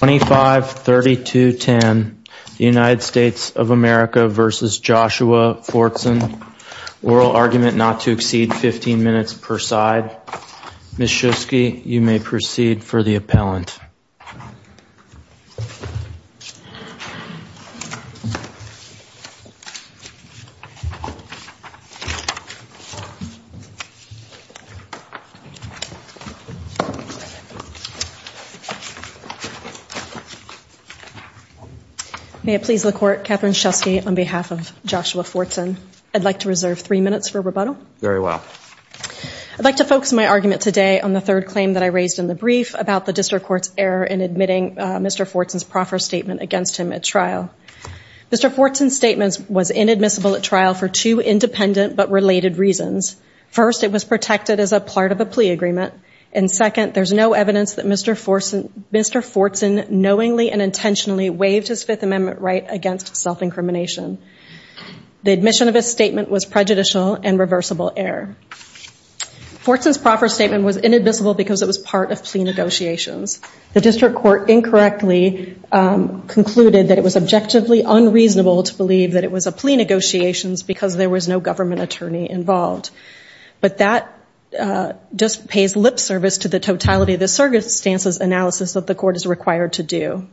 oral argument not to exceed 15 minutes per side. Ms. Shusky, you may proceed for the appellant. May it please the court, Katherine Shusky on behalf of Joshua Fortson. I'd like to reserve three minutes for rebuttal. Very well. I'd like to focus my argument today on the third claim that I raised in the brief about the district court's error in admitting Mr. Fortson's proffer statement against him at trial. Mr. Fortson's statement was inadmissible at trial for two independent but related reasons. First, it was protected as a part of a plea agreement. And second, there's no evidence that Mr. Fortson knowingly and intentionally waived his Fifth Amendment right against self-incrimination. The admission of his statement was prejudicial and reversible error. Fortson's proffer statement was inadmissible because it was part of plea negotiations. The district court incorrectly concluded that it was objectively unreasonable to believe that it was a plea negotiations because there was no government attorney involved. But that just pays lip service to the totality of the circumstances analysis that the court is required to do.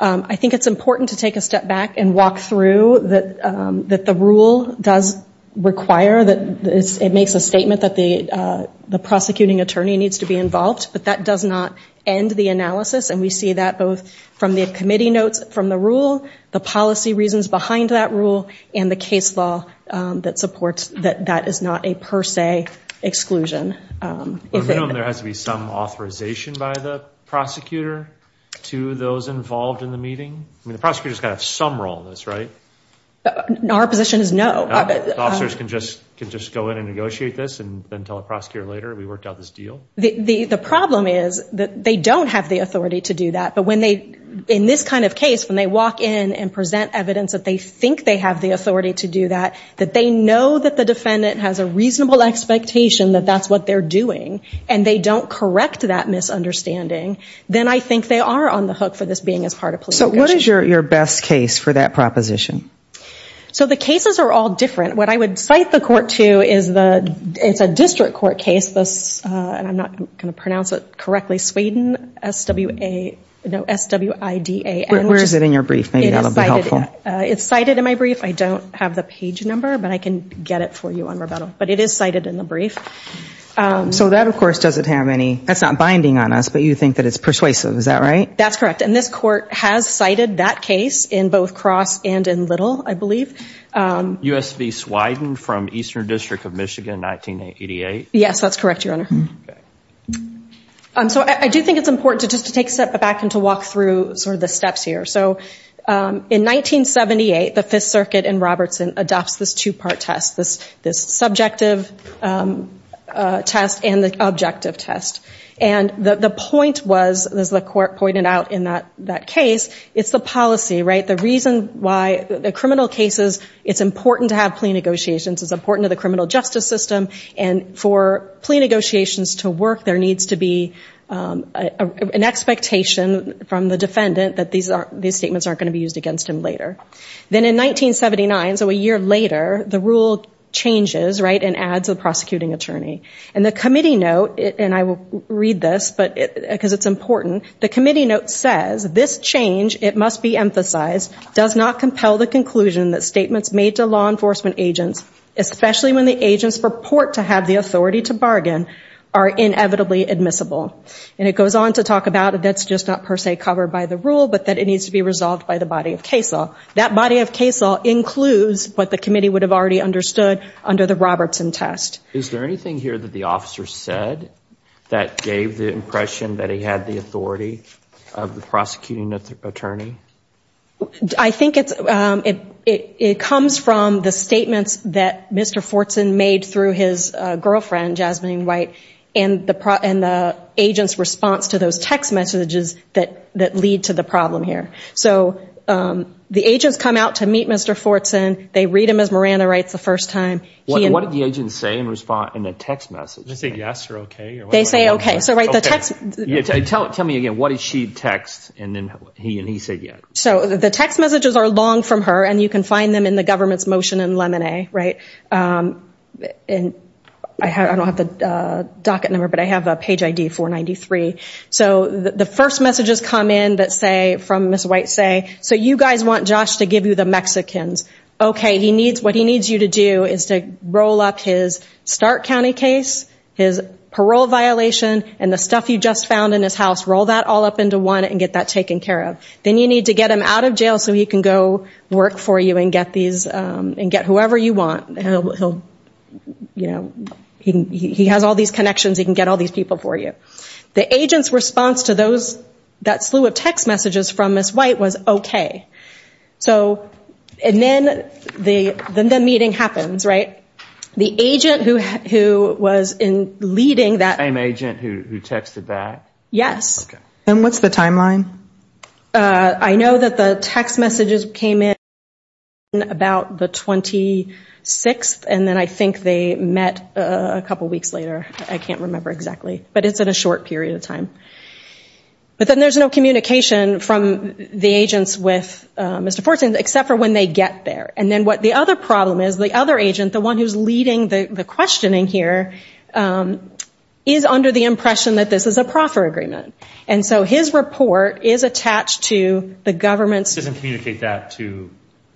I think it's important to take a step back and walk through that the rule does require that it makes a statement that the prosecuting attorney needs to be involved. But that does not end the analysis. And we see that both from the committee notes from the rule, the policy reasons behind that rule, and the case law that supports that that is not a per se exclusion. There has to be some authorization by the prosecutor to those involved in the meeting. I mean, the prosecutor's got to have some role in this, right? Our position is no. Officers can just can just go in and negotiate this and then tell the prosecutor later we worked out this deal. The problem is that they don't have the authority to do that. But when they, in this kind of case, when they walk in and present evidence that they think they have the authority to do that, that they know that the defendant has a reasonable expectation that that's what they're doing, and they don't correct that misunderstanding, then I think they are on the hook for this being as part of plea negotiations. So what is your best case for that proposition? So the cases are all different. What I would cite the court to is it's a district court case, and I'm not going to pronounce it correctly, Sweden, S-W-I-D-A. Where is it in your brief? It's cited in my brief. I don't have the page number, but I can get it for you on rebuttal. But it is cited in the brief. So that, of course, doesn't have any, that's not binding on us, but you think that it's persuasive. Is that right? That's correct. And this court has cited that case in both Cross and in Little, I believe. U.S. v. Sweden from Eastern District of Michigan, 1988? Yes, that's correct, Your Honor. Okay. So I do think it's important just to take a step back and to walk through sort of the steps here. So in 1978, the Fifth Circuit in Robertson adopts this two-part test, this subjective test and the objective test. And the point was, as the court pointed out in that case, it's the policy, right? The reason why the criminal cases, it's important to have plea negotiations. It's important to the criminal justice system. And for plea negotiations to work, there needs to be an expectation from the defendant that these statements aren't going to be used against him later. Then in 1979, so a year later, the rule changes, right, and adds a prosecuting attorney. And the committee note, and I will read this because it's important, the committee note says, this change, it must be emphasized, does not compel the conclusion that statements made to law enforcement agents, especially when the agents purport to have the authority to bargain, are inevitably admissible. And it goes on to talk about that's just not per se covered by the rule, but that it needs to be resolved by the body of case law. That body of case law includes what the committee would have already understood under the Robertson test. Is there anything here that the officer said that gave the impression that he had the authority of the prosecuting attorney? I think it comes from the statements that Mr. Fortson made through his girlfriend, Jasmine White, and the agent's response to those text messages that lead to the problem here. So the agents come out to meet Mr. Fortson. They read him as Miranda writes the first time. What did the agent say in the text message? Did they say yes or okay? They say okay. Tell me again. What did she text, and then he said yes? So the text messages are long from her, and you can find them in the government's motion in Lemonay, right? And I don't have the docket number, but I have a page ID, 493. So the first messages come in that say, from Ms. White say, so you guys want Josh to give you the Mexicans. Okay, what he needs you to do is to roll up his Stark County case, his parole violation, and the stuff you just found in his house, roll that all up into one and get that taken care of. Then you need to get him out of jail so he can go work for you and get whoever you want. He has all these connections. He can get all these people for you. The agent's response to that slew of text messages from Ms. White was okay. And then the meeting happens, right? The agent who was leading that. The same agent who texted that? Yes. And what's the timeline? I know that the text messages came in about the 26th, and then I think they met a couple weeks later. I can't remember exactly, but it's in a short period of time. But then there's no communication from the agents with Mr. Fortson except for when they get there. And then what the other problem is, the other agent, the one who's leading the questioning here, is under the impression that this is a proffer agreement. And so his report is attached to the government's. It doesn't communicate that to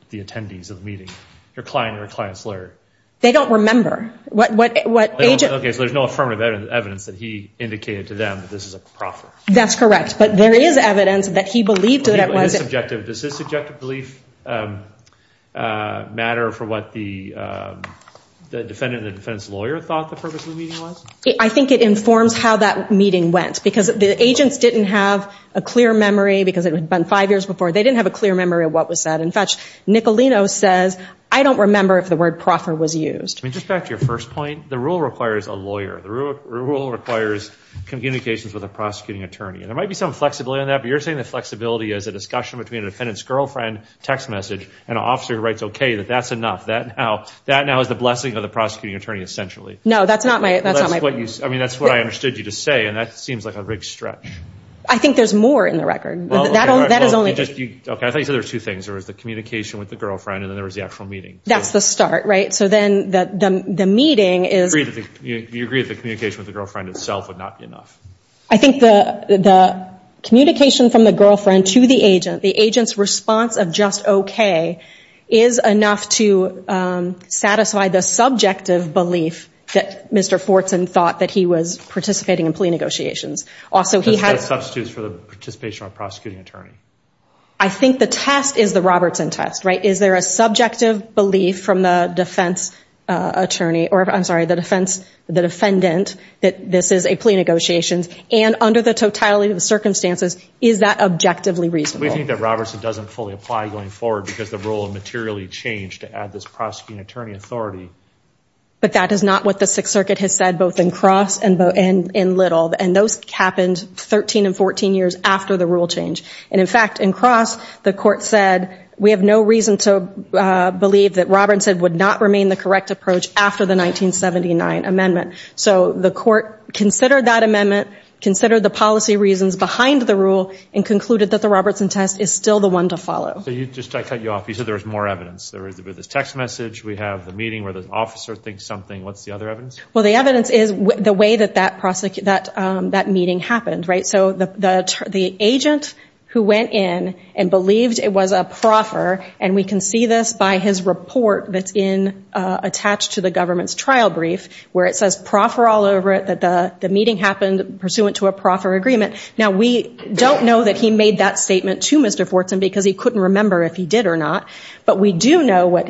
the attendees of the meeting, your client or a client's lawyer. They don't remember. Okay, so there's no affirmative evidence that he indicated to them that this is a proffer. That's correct. But there is evidence that he believed that it was. Does his subjective belief matter for what the defendant and the defendant's lawyer thought the purpose of the meeting was? I think it informs how that meeting went. Because the agents didn't have a clear memory because it had been five years before. They didn't have a clear memory of what was said. In fact, Nicolino says, I don't remember if the word proffer was used. I mean, just back to your first point, the rule requires a lawyer. The rule requires communications with a prosecuting attorney. And there might be some flexibility on that, but you're saying the flexibility is a discussion between a defendant's girlfriend, text message, and an officer who writes okay, that that's enough. That now is the blessing of the prosecuting attorney essentially. No, that's not my point. I mean, that's what I understood you to say, and that seems like a big stretch. I think there's more in the record. Okay, I thought you said there were two things. There was the communication with the girlfriend, and then there was the actual meeting. That's the start, right? So then the meeting is- You agree that the communication with the girlfriend itself would not be enough. I think the communication from the girlfriend to the agent, the agent's response of just okay, is enough to satisfy the subjective belief that Mr. Fortson thought that he was participating in plea negotiations. Also, he had- That substitutes for the participation of a prosecuting attorney. I think the test is the Robertson test, right? Is there a subjective belief from the defense attorney- I'm sorry, the defendant that this is a plea negotiation, and under the totality of the circumstances, is that objectively reasonable? We think that Robertson doesn't fully apply going forward because the rule materially changed to add this prosecuting attorney authority. But that is not what the Sixth Circuit has said both in Cross and in Little, and those happened 13 and 14 years after the rule change. And, in fact, in Cross, the court said we have no reason to believe that Robertson would not remain the correct approach after the 1979 amendment. So the court considered that amendment, considered the policy reasons behind the rule, and concluded that the Robertson test is still the one to follow. So just to cut you off, you said there was more evidence. There was this text message, we have the meeting where the officer thinks something. What's the other evidence? Well, the evidence is the way that that meeting happened, right? So the agent who went in and believed it was a proffer, and we can see this by his report that's attached to the government's trial brief, where it says proffer all over it, that the meeting happened pursuant to a proffer agreement. Now, we don't know that he made that statement to Mr. Fortson because he couldn't remember if he did or not. But we do know what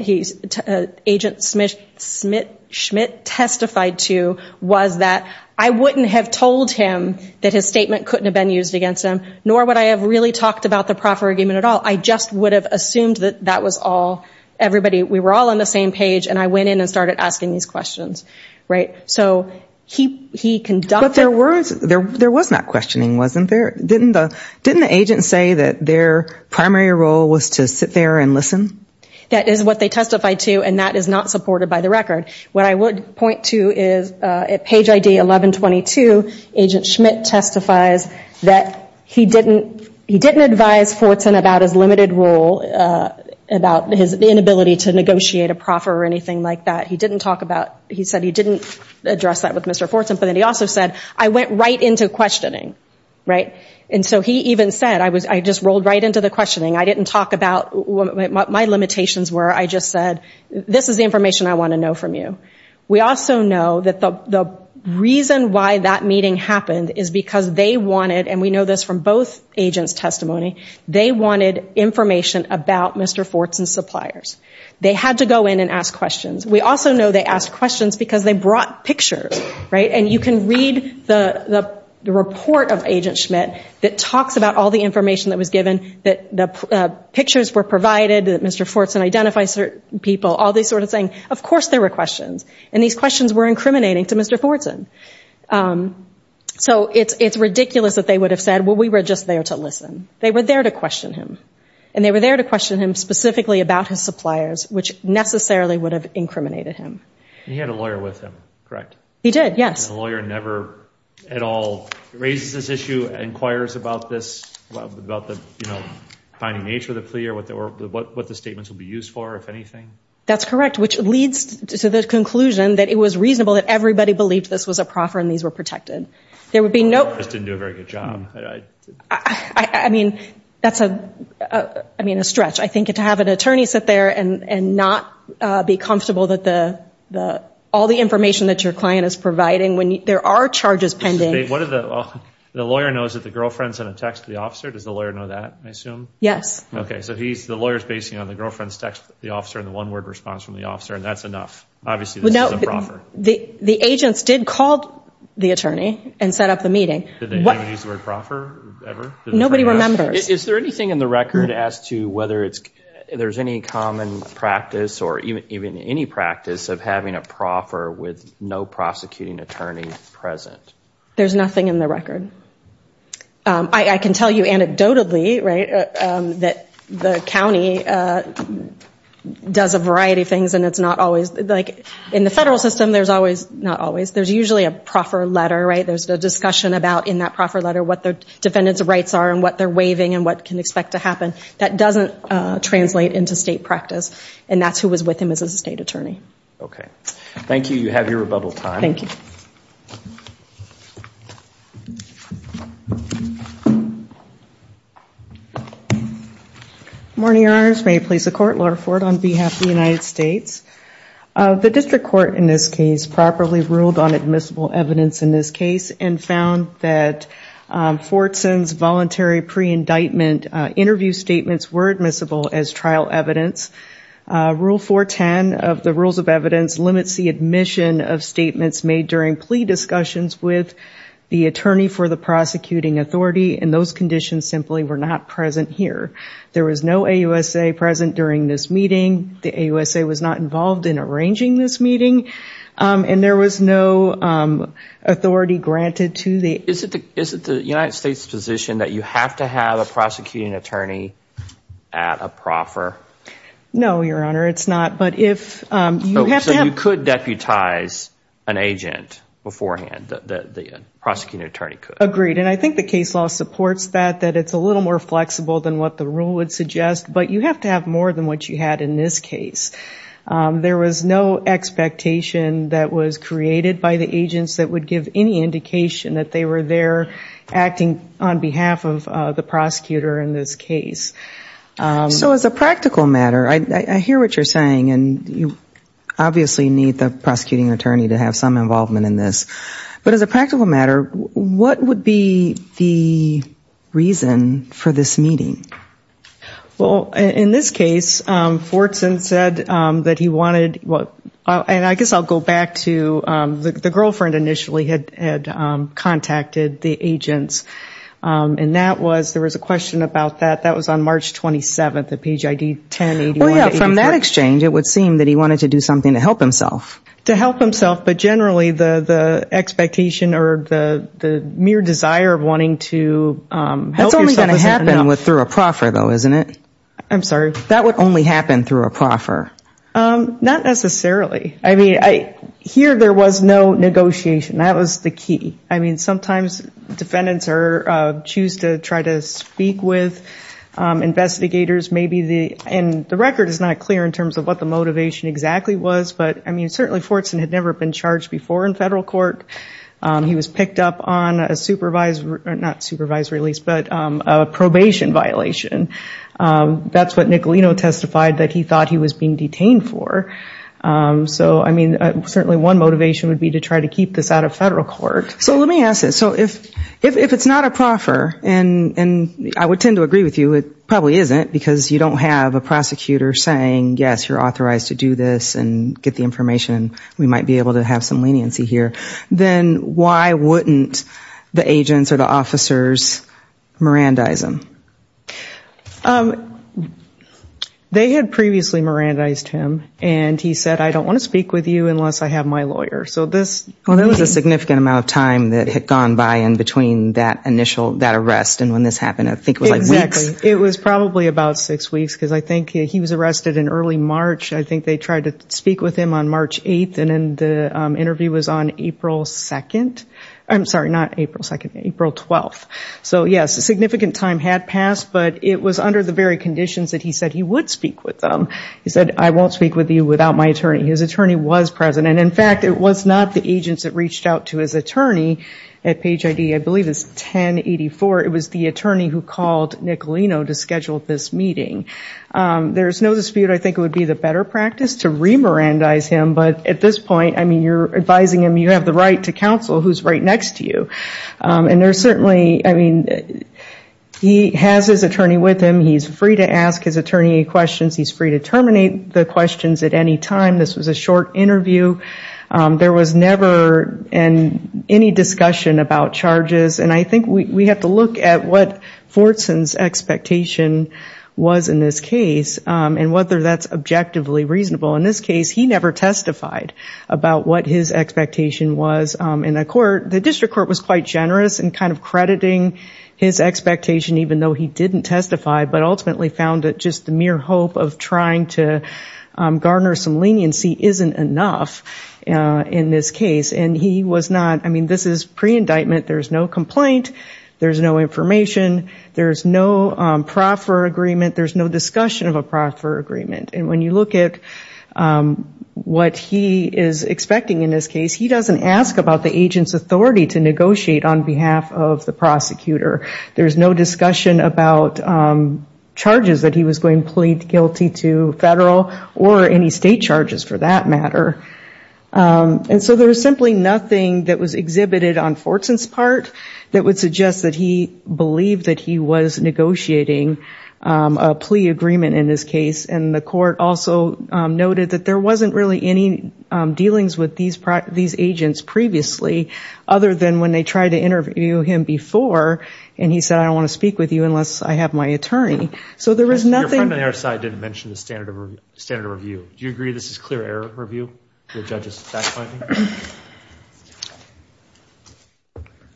Agent Schmidt testified to was that, I wouldn't have told him that his statement couldn't have been used against him, nor would I have really talked about the proffer agreement at all. I just would have assumed that that was all everybody, we were all on the same page, and I went in and started asking these questions, right? So he conducted. But there was not questioning, wasn't there? Didn't the agent say that their primary role was to sit there and listen? That is what they testified to, and that is not supported by the record. What I would point to is at page ID 1122, Agent Schmidt testifies that he didn't advise Fortson about his limited role, about his inability to negotiate a proffer or anything like that. He said he didn't address that with Mr. Fortson, but then he also said, I went right into questioning, right? And so he even said, I just rolled right into the questioning. I didn't talk about what my limitations were. I just said, this is the information I want to know from you. We also know that the reason why that meeting happened is because they wanted, and we know this from both agents' testimony, they wanted information about Mr. Fortson's suppliers. They had to go in and ask questions. We also know they asked questions because they brought pictures, right? And you can read the report of Agent Schmidt that talks about all the information that was given, that the pictures were provided, that Mr. Fortson identifies certain people, all this sort of thing. Of course there were questions, and these questions were incriminating to Mr. Fortson. So it's ridiculous that they would have said, well, we were just there to listen. They were there to question him, and they were there to question him specifically about his suppliers, which necessarily would have incriminated him. He had a lawyer with him, correct? He did, yes. The lawyer never at all raises this issue, inquires about this, about the, you know, finding nature of the plea or what the statements would be used for, if anything? That's correct, which leads to the conclusion that it was reasonable that everybody believed this was a proffer and these were protected. The lawyers didn't do a very good job. I mean, that's a stretch. I think to have an attorney sit there and not be comfortable that all the information that your client is providing, when there are charges pending. The lawyer knows that the girlfriend sent a text to the officer? Does the lawyer know that, I assume? Yes. Okay, so the lawyer is basing it on the girlfriend's text to the officer and the one-word response from the officer, and that's enough. Obviously this is a proffer. The agents did call the attorney and set up the meeting. Did they use the word proffer ever? Nobody remembers. Is there anything in the record as to whether there's any common practice or even any practice of having a proffer with no prosecuting attorney present? There's nothing in the record. I can tell you anecdotally that the county does a variety of things and it's not always. In the federal system, there's usually a proffer letter. There's a discussion about, in that proffer letter, what their defendants' rights are and what they're waiving and what can expect to happen. That doesn't translate into state practice, and that's who was with him as a state attorney. Okay. Thank you. You have your rebuttal time. Thank you. Good morning, Your Honors. May it please the Court, Laura Ford on behalf of the United States. The district court in this case properly ruled on admissible evidence in this case and found that Fortson's voluntary pre-indictment interview statements were admissible as trial evidence. Rule 410 of the Rules of Evidence limits the admission of statements made during plea discussions with the attorney for the prosecuting authority, and those conditions simply were not present here. There was no AUSA present during this meeting. The AUSA was not involved in arranging this meeting. And there was no authority granted to the- Is it the United States' position that you have to have a prosecuting attorney at a proffer? No, Your Honor, it's not, but if you have to have- So you could deputize an agent beforehand, the prosecuting attorney could. Agreed, and I think the case law supports that, that it's a little more flexible than what the rule would suggest, but you have to have more than what you had in this case. There was no expectation that was created by the agents that would give any indication that they were there acting on behalf of the prosecutor in this case. So as a practical matter, I hear what you're saying, and you obviously need the prosecuting attorney to have some involvement in this, but as a practical matter, what would be the reason for this meeting? Well, in this case, Fortson said that he wanted- and I guess I'll go back to the girlfriend initially had contacted the agents, and there was a question about that. That was on March 27th at page ID 1080- Well, yeah, from that exchange, it would seem that he wanted to do something to help himself. To help himself, but generally the expectation or the mere desire of wanting to help yourself- It's a proffer, though, isn't it? I'm sorry? That would only happen through a proffer. Not necessarily. I mean, here there was no negotiation. That was the key. I mean, sometimes defendants choose to try to speak with investigators, and the record is not clear in terms of what the motivation exactly was, but certainly Fortson had never been charged before in federal court. He was picked up on a probation violation. That's what Nicolino testified that he thought he was being detained for. So, I mean, certainly one motivation would be to try to keep this out of federal court. So let me ask this. So if it's not a proffer, and I would tend to agree with you, it probably isn't, because you don't have a prosecutor saying, yes, you're authorized to do this and get the information, we might be able to have some leniency here, then why wouldn't the agents or the officers mirandize him? They had previously mirandized him, and he said, I don't want to speak with you unless I have my lawyer. So this- Well, there was a significant amount of time that had gone by in between that arrest, and when this happened, I think it was like weeks. Exactly. It was probably about six weeks, because I think he was arrested in early March. I think they tried to speak with him on March 8th, and then the interview was on April 2nd. I'm sorry, not April 2nd, April 12th. So, yes, a significant time had passed, but it was under the very conditions that he said he would speak with them. He said, I won't speak with you without my attorney. His attorney was present, and, in fact, it was not the agents that reached out to his attorney at Page ID. I believe it's 1084. It was the attorney who called Nicolino to schedule this meeting. There's no dispute I think it would be the better practice to remirandize him, but at this point, I mean, you're advising him, you have the right to counsel, who's right next to you. And there's certainly, I mean, he has his attorney with him. He's free to ask his attorney questions. He's free to terminate the questions at any time. This was a short interview. There was never any discussion about charges, and I think we have to look at what Fortson's expectation was in this case and whether that's objectively reasonable. In this case, he never testified about what his expectation was in the court. The district court was quite generous in kind of crediting his expectation, even though he didn't testify, but ultimately found that just the mere hope of trying to garner some leniency isn't enough in this case, and he was not. I mean, this is pre-indictment. There's no complaint. There's no information. There's no proffer agreement. There's no discussion of a proffer agreement. And when you look at what he is expecting in this case, he doesn't ask about the agent's authority to negotiate on behalf of the prosecutor. There's no discussion about charges that he was going to plead guilty to federal or any state charges, for that matter. And so there was simply nothing that was exhibited on Fortson's part that would suggest that he believed that he was negotiating a plea agreement in this case, and the court also noted that there wasn't really any dealings with these agents previously, other than when they tried to interview him before, and he said, I don't want to speak with you unless I have my attorney. So there was nothing. Your friend on the other side didn't mention the standard of review. Do you agree this is clear error review, the judge's fact-finding?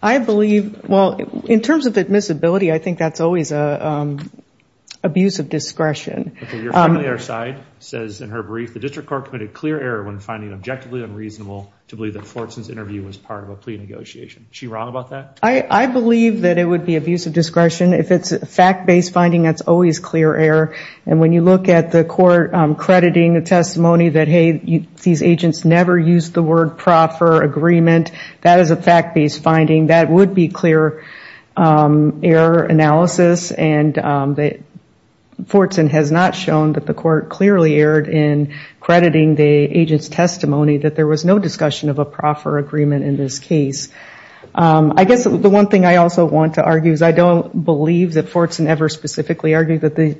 I believe, well, in terms of admissibility, I think that's always an abuse of discretion. Your friend on the other side says in her brief, the district court committed clear error when finding it objectively unreasonable to believe that Fortson's interview was part of a plea negotiation. Is she wrong about that? I believe that it would be abuse of discretion. If it's fact-based finding, that's always clear error. And when you look at the court crediting the testimony that, hey, these agents never used the word proffer agreement, that is a fact-based finding. That would be clear error analysis, and Fortson has not shown that the court clearly erred in crediting the agent's testimony that there was no discussion of a proffer agreement in this case. I guess the one thing I also want to argue is I don't believe that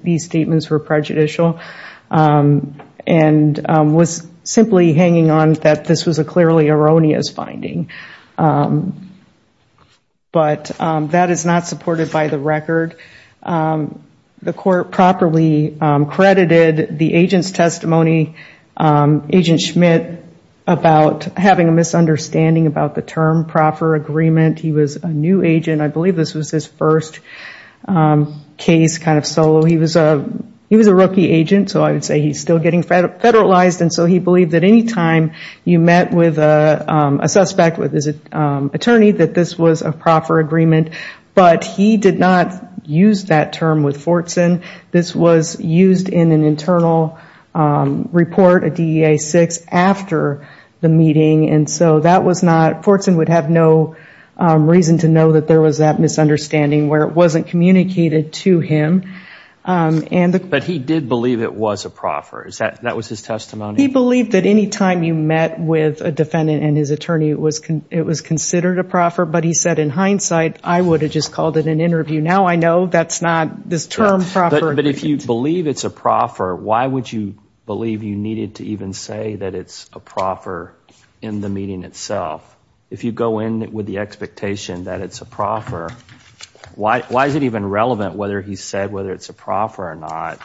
these statements were prejudicial and was simply hanging on that this was a clearly erroneous finding. But that is not supported by the record. The court properly credited the agent's testimony, Agent Schmidt, about having a misunderstanding about the term proffer agreement. He was a new agent. I believe this was his first case kind of solo. He was a rookie agent, so I would say he's still getting federalized, and so he believed that any time you met with a suspect, with his attorney, that this was a proffer agreement. But he did not use that term with Fortson. This was used in an internal report, a DEA-6, after the meeting, and so that was not – Fortson would have no reason to know that there was that misunderstanding where it wasn't communicated to him. But he did believe it was a proffer. That was his testimony? He believed that any time you met with a defendant and his attorney, it was considered a proffer, but he said, in hindsight, I would have just called it an interview. Now I know that's not this term proffer agreement. But if you believe it's a proffer, why would you believe you needed to even say that it's a proffer in the meeting itself? If you go in with the expectation that it's a proffer, why is it even relevant whether he said whether it's a proffer or not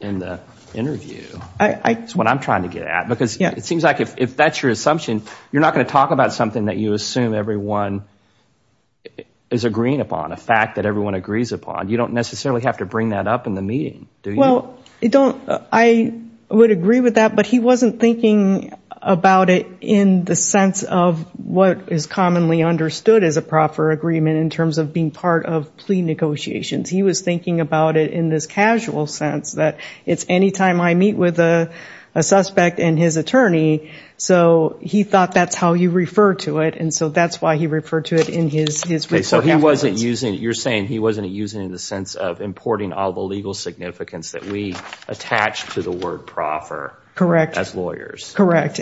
in the interview? That's what I'm trying to get at. Because it seems like if that's your assumption, you're not going to talk about something that you assume everyone is agreeing upon, a fact that everyone agrees upon. You don't necessarily have to bring that up in the meeting, do you? Well, I would agree with that, but he wasn't thinking about it in the sense of what is commonly understood as a proffer agreement in terms of being part of plea negotiations. He was thinking about it in this casual sense, that it's any time I meet with a suspect and his attorney. So he thought that's how you refer to it, and so that's why he referred to it in his report afterwards. So he wasn't using it. You're saying he wasn't using it in the sense of importing all the legal significance that we attach to the word proffer. Correct.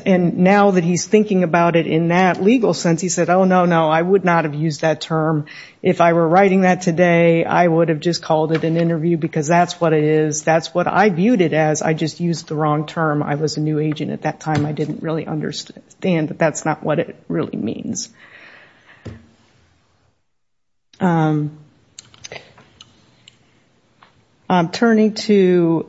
And now that he's thinking about it in that legal sense, he said, oh, no, no, I would not have used that term if I were writing that today. I would have just called it an interview because that's what it is. That's what I viewed it as. I just used the wrong term. I was a new agent at that time. I didn't really understand that that's not what it really means. Turning to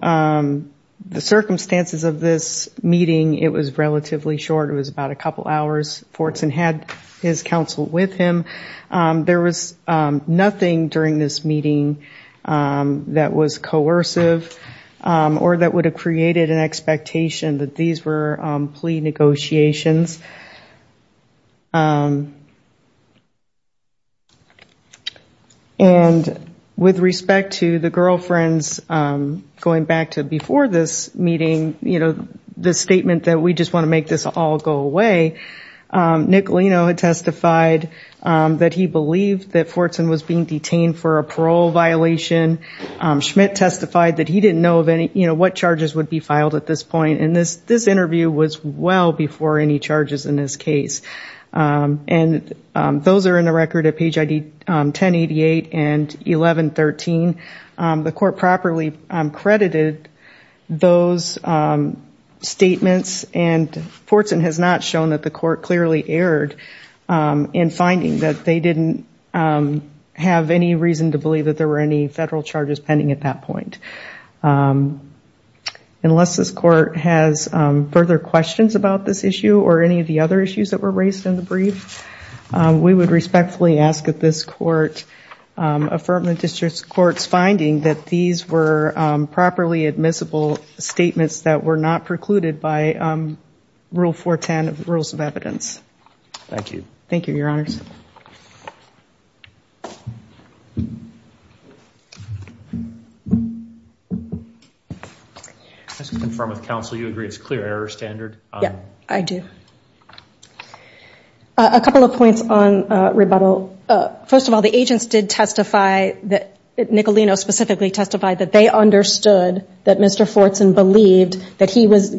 the circumstances of this meeting, it was relatively short. It was about a couple hours. Fortson had his counsel with him. There was nothing during this meeting that was coercive or that would have created an expectation that these were plea negotiations. And with respect to the girlfriends, going back to before this meeting, the statement that we just want to make this all go away, Nick Lino had testified that he believed that Fortson was being detained for a parole violation. Schmidt testified that he didn't know what charges would be filed at this point, and this interview was well before any charges were filed. Those are in the record at page 1088 and 1113. The court properly credited those statements, and Fortson has not shown that the court clearly erred in finding that they didn't have any reason to believe that there were any federal charges pending at that point. Unless this court has further questions about this issue or any of the other issues that were raised in the brief, we would respectfully ask that this court affirm the district court's finding that these were properly admissible statements that were not precluded by Rule 410 of the Rules of Evidence. Thank you. Thank you, Your Honors. Just to confirm with counsel, you agree it's a clear error standard? Yes, I do. A couple of points on rebuttal. First of all, the agents did testify, Nick Lino specifically testified, that they understood that Mr. Fortson believed that he was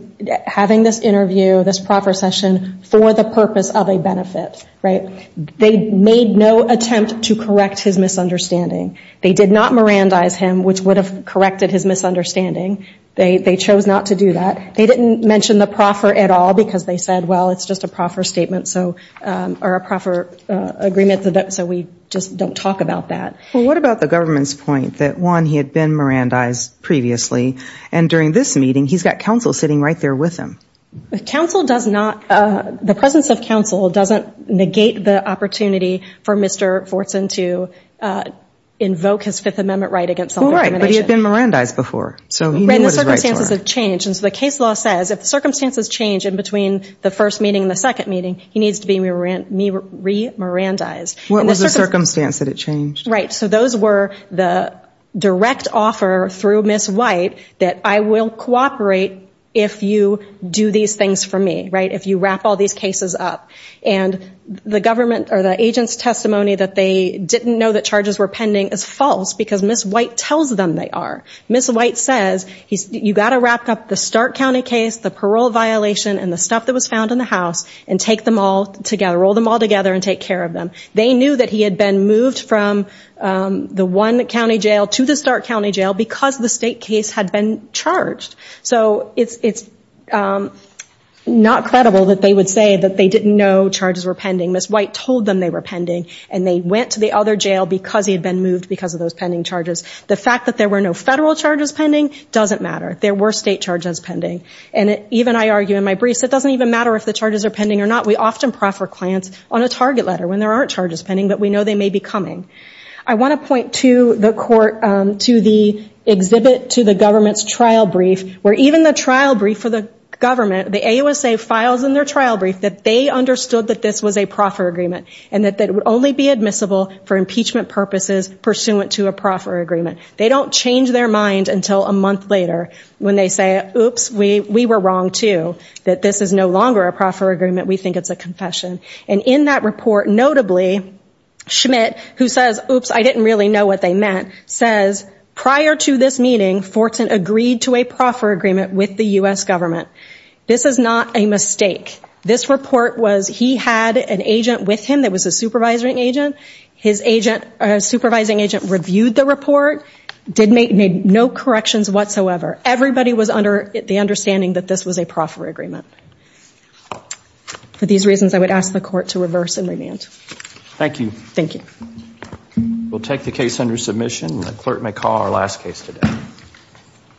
having this interview, this proper session, for the purpose of a benefit. They made no attempt to correct his misunderstanding. They did not Mirandize him, which would have corrected his misunderstanding. They chose not to do that. They didn't mention the proffer at all because they said, well, it's just a proffer statement or a proffer agreement, so we just don't talk about that. Well, what about the government's point that, one, he had been Mirandized previously, and during this meeting, he's got counsel sitting right there with him? The presence of counsel doesn't negate the opportunity for Mr. Fortson to invoke his Fifth Amendment right against self-discrimination. Well, right, but he had been Mirandized before, so he knew what his rights were. Right, and the circumstances have changed. And so the case law says if the circumstances change in between the first meeting and the second meeting, he needs to be re-Mirandized. What was the circumstance that it changed? Right, so those were the direct offer through Ms. White that I will cooperate if you do these things for me, right, if you wrap all these cases up. And the government or the agent's testimony that they didn't know that charges were pending is false because Ms. White tells them they are. Ms. White says you've got to wrap up the Stark County case, the parole violation, and the stuff that was found in the house, and take them all together, roll them all together and take care of them. They knew that he had been moved from the one county jail to the Stark County jail because the state case had been charged. So it's not credible that they would say that they didn't know charges were pending. Ms. White told them they were pending and they went to the other jail because he had been moved because of those pending charges. The fact that there were no federal charges pending doesn't matter. There were state charges pending. And even I argue in my briefs it doesn't even matter if the charges are pending or not. We often prefer clients on a target letter when there aren't charges pending, but we know they may be coming. I want to point to the court, to the exhibit, to the government's trial brief where even the trial brief for the government, the AUSA files in their trial brief that they understood that this was a proffer agreement and that it would only be admissible for impeachment purposes pursuant to a proffer agreement. They don't change their mind until a month later when they say, oops, we were wrong too, that this is no longer a proffer agreement, we think it's a confession. And in that report, notably, Schmidt, who says, oops, I didn't really know what they meant, says, prior to this meeting, Fortin agreed to a proffer agreement with the U.S. government. This is not a mistake. This report was he had an agent with him that was a supervising agent. His agent, supervising agent, reviewed the report, made no corrections whatsoever. Everybody was under the understanding that this was a proffer agreement. For these reasons, I would ask the court to reverse and remand. Thank you. Thank you. We'll take the case under submission. The clerk may call our last case today.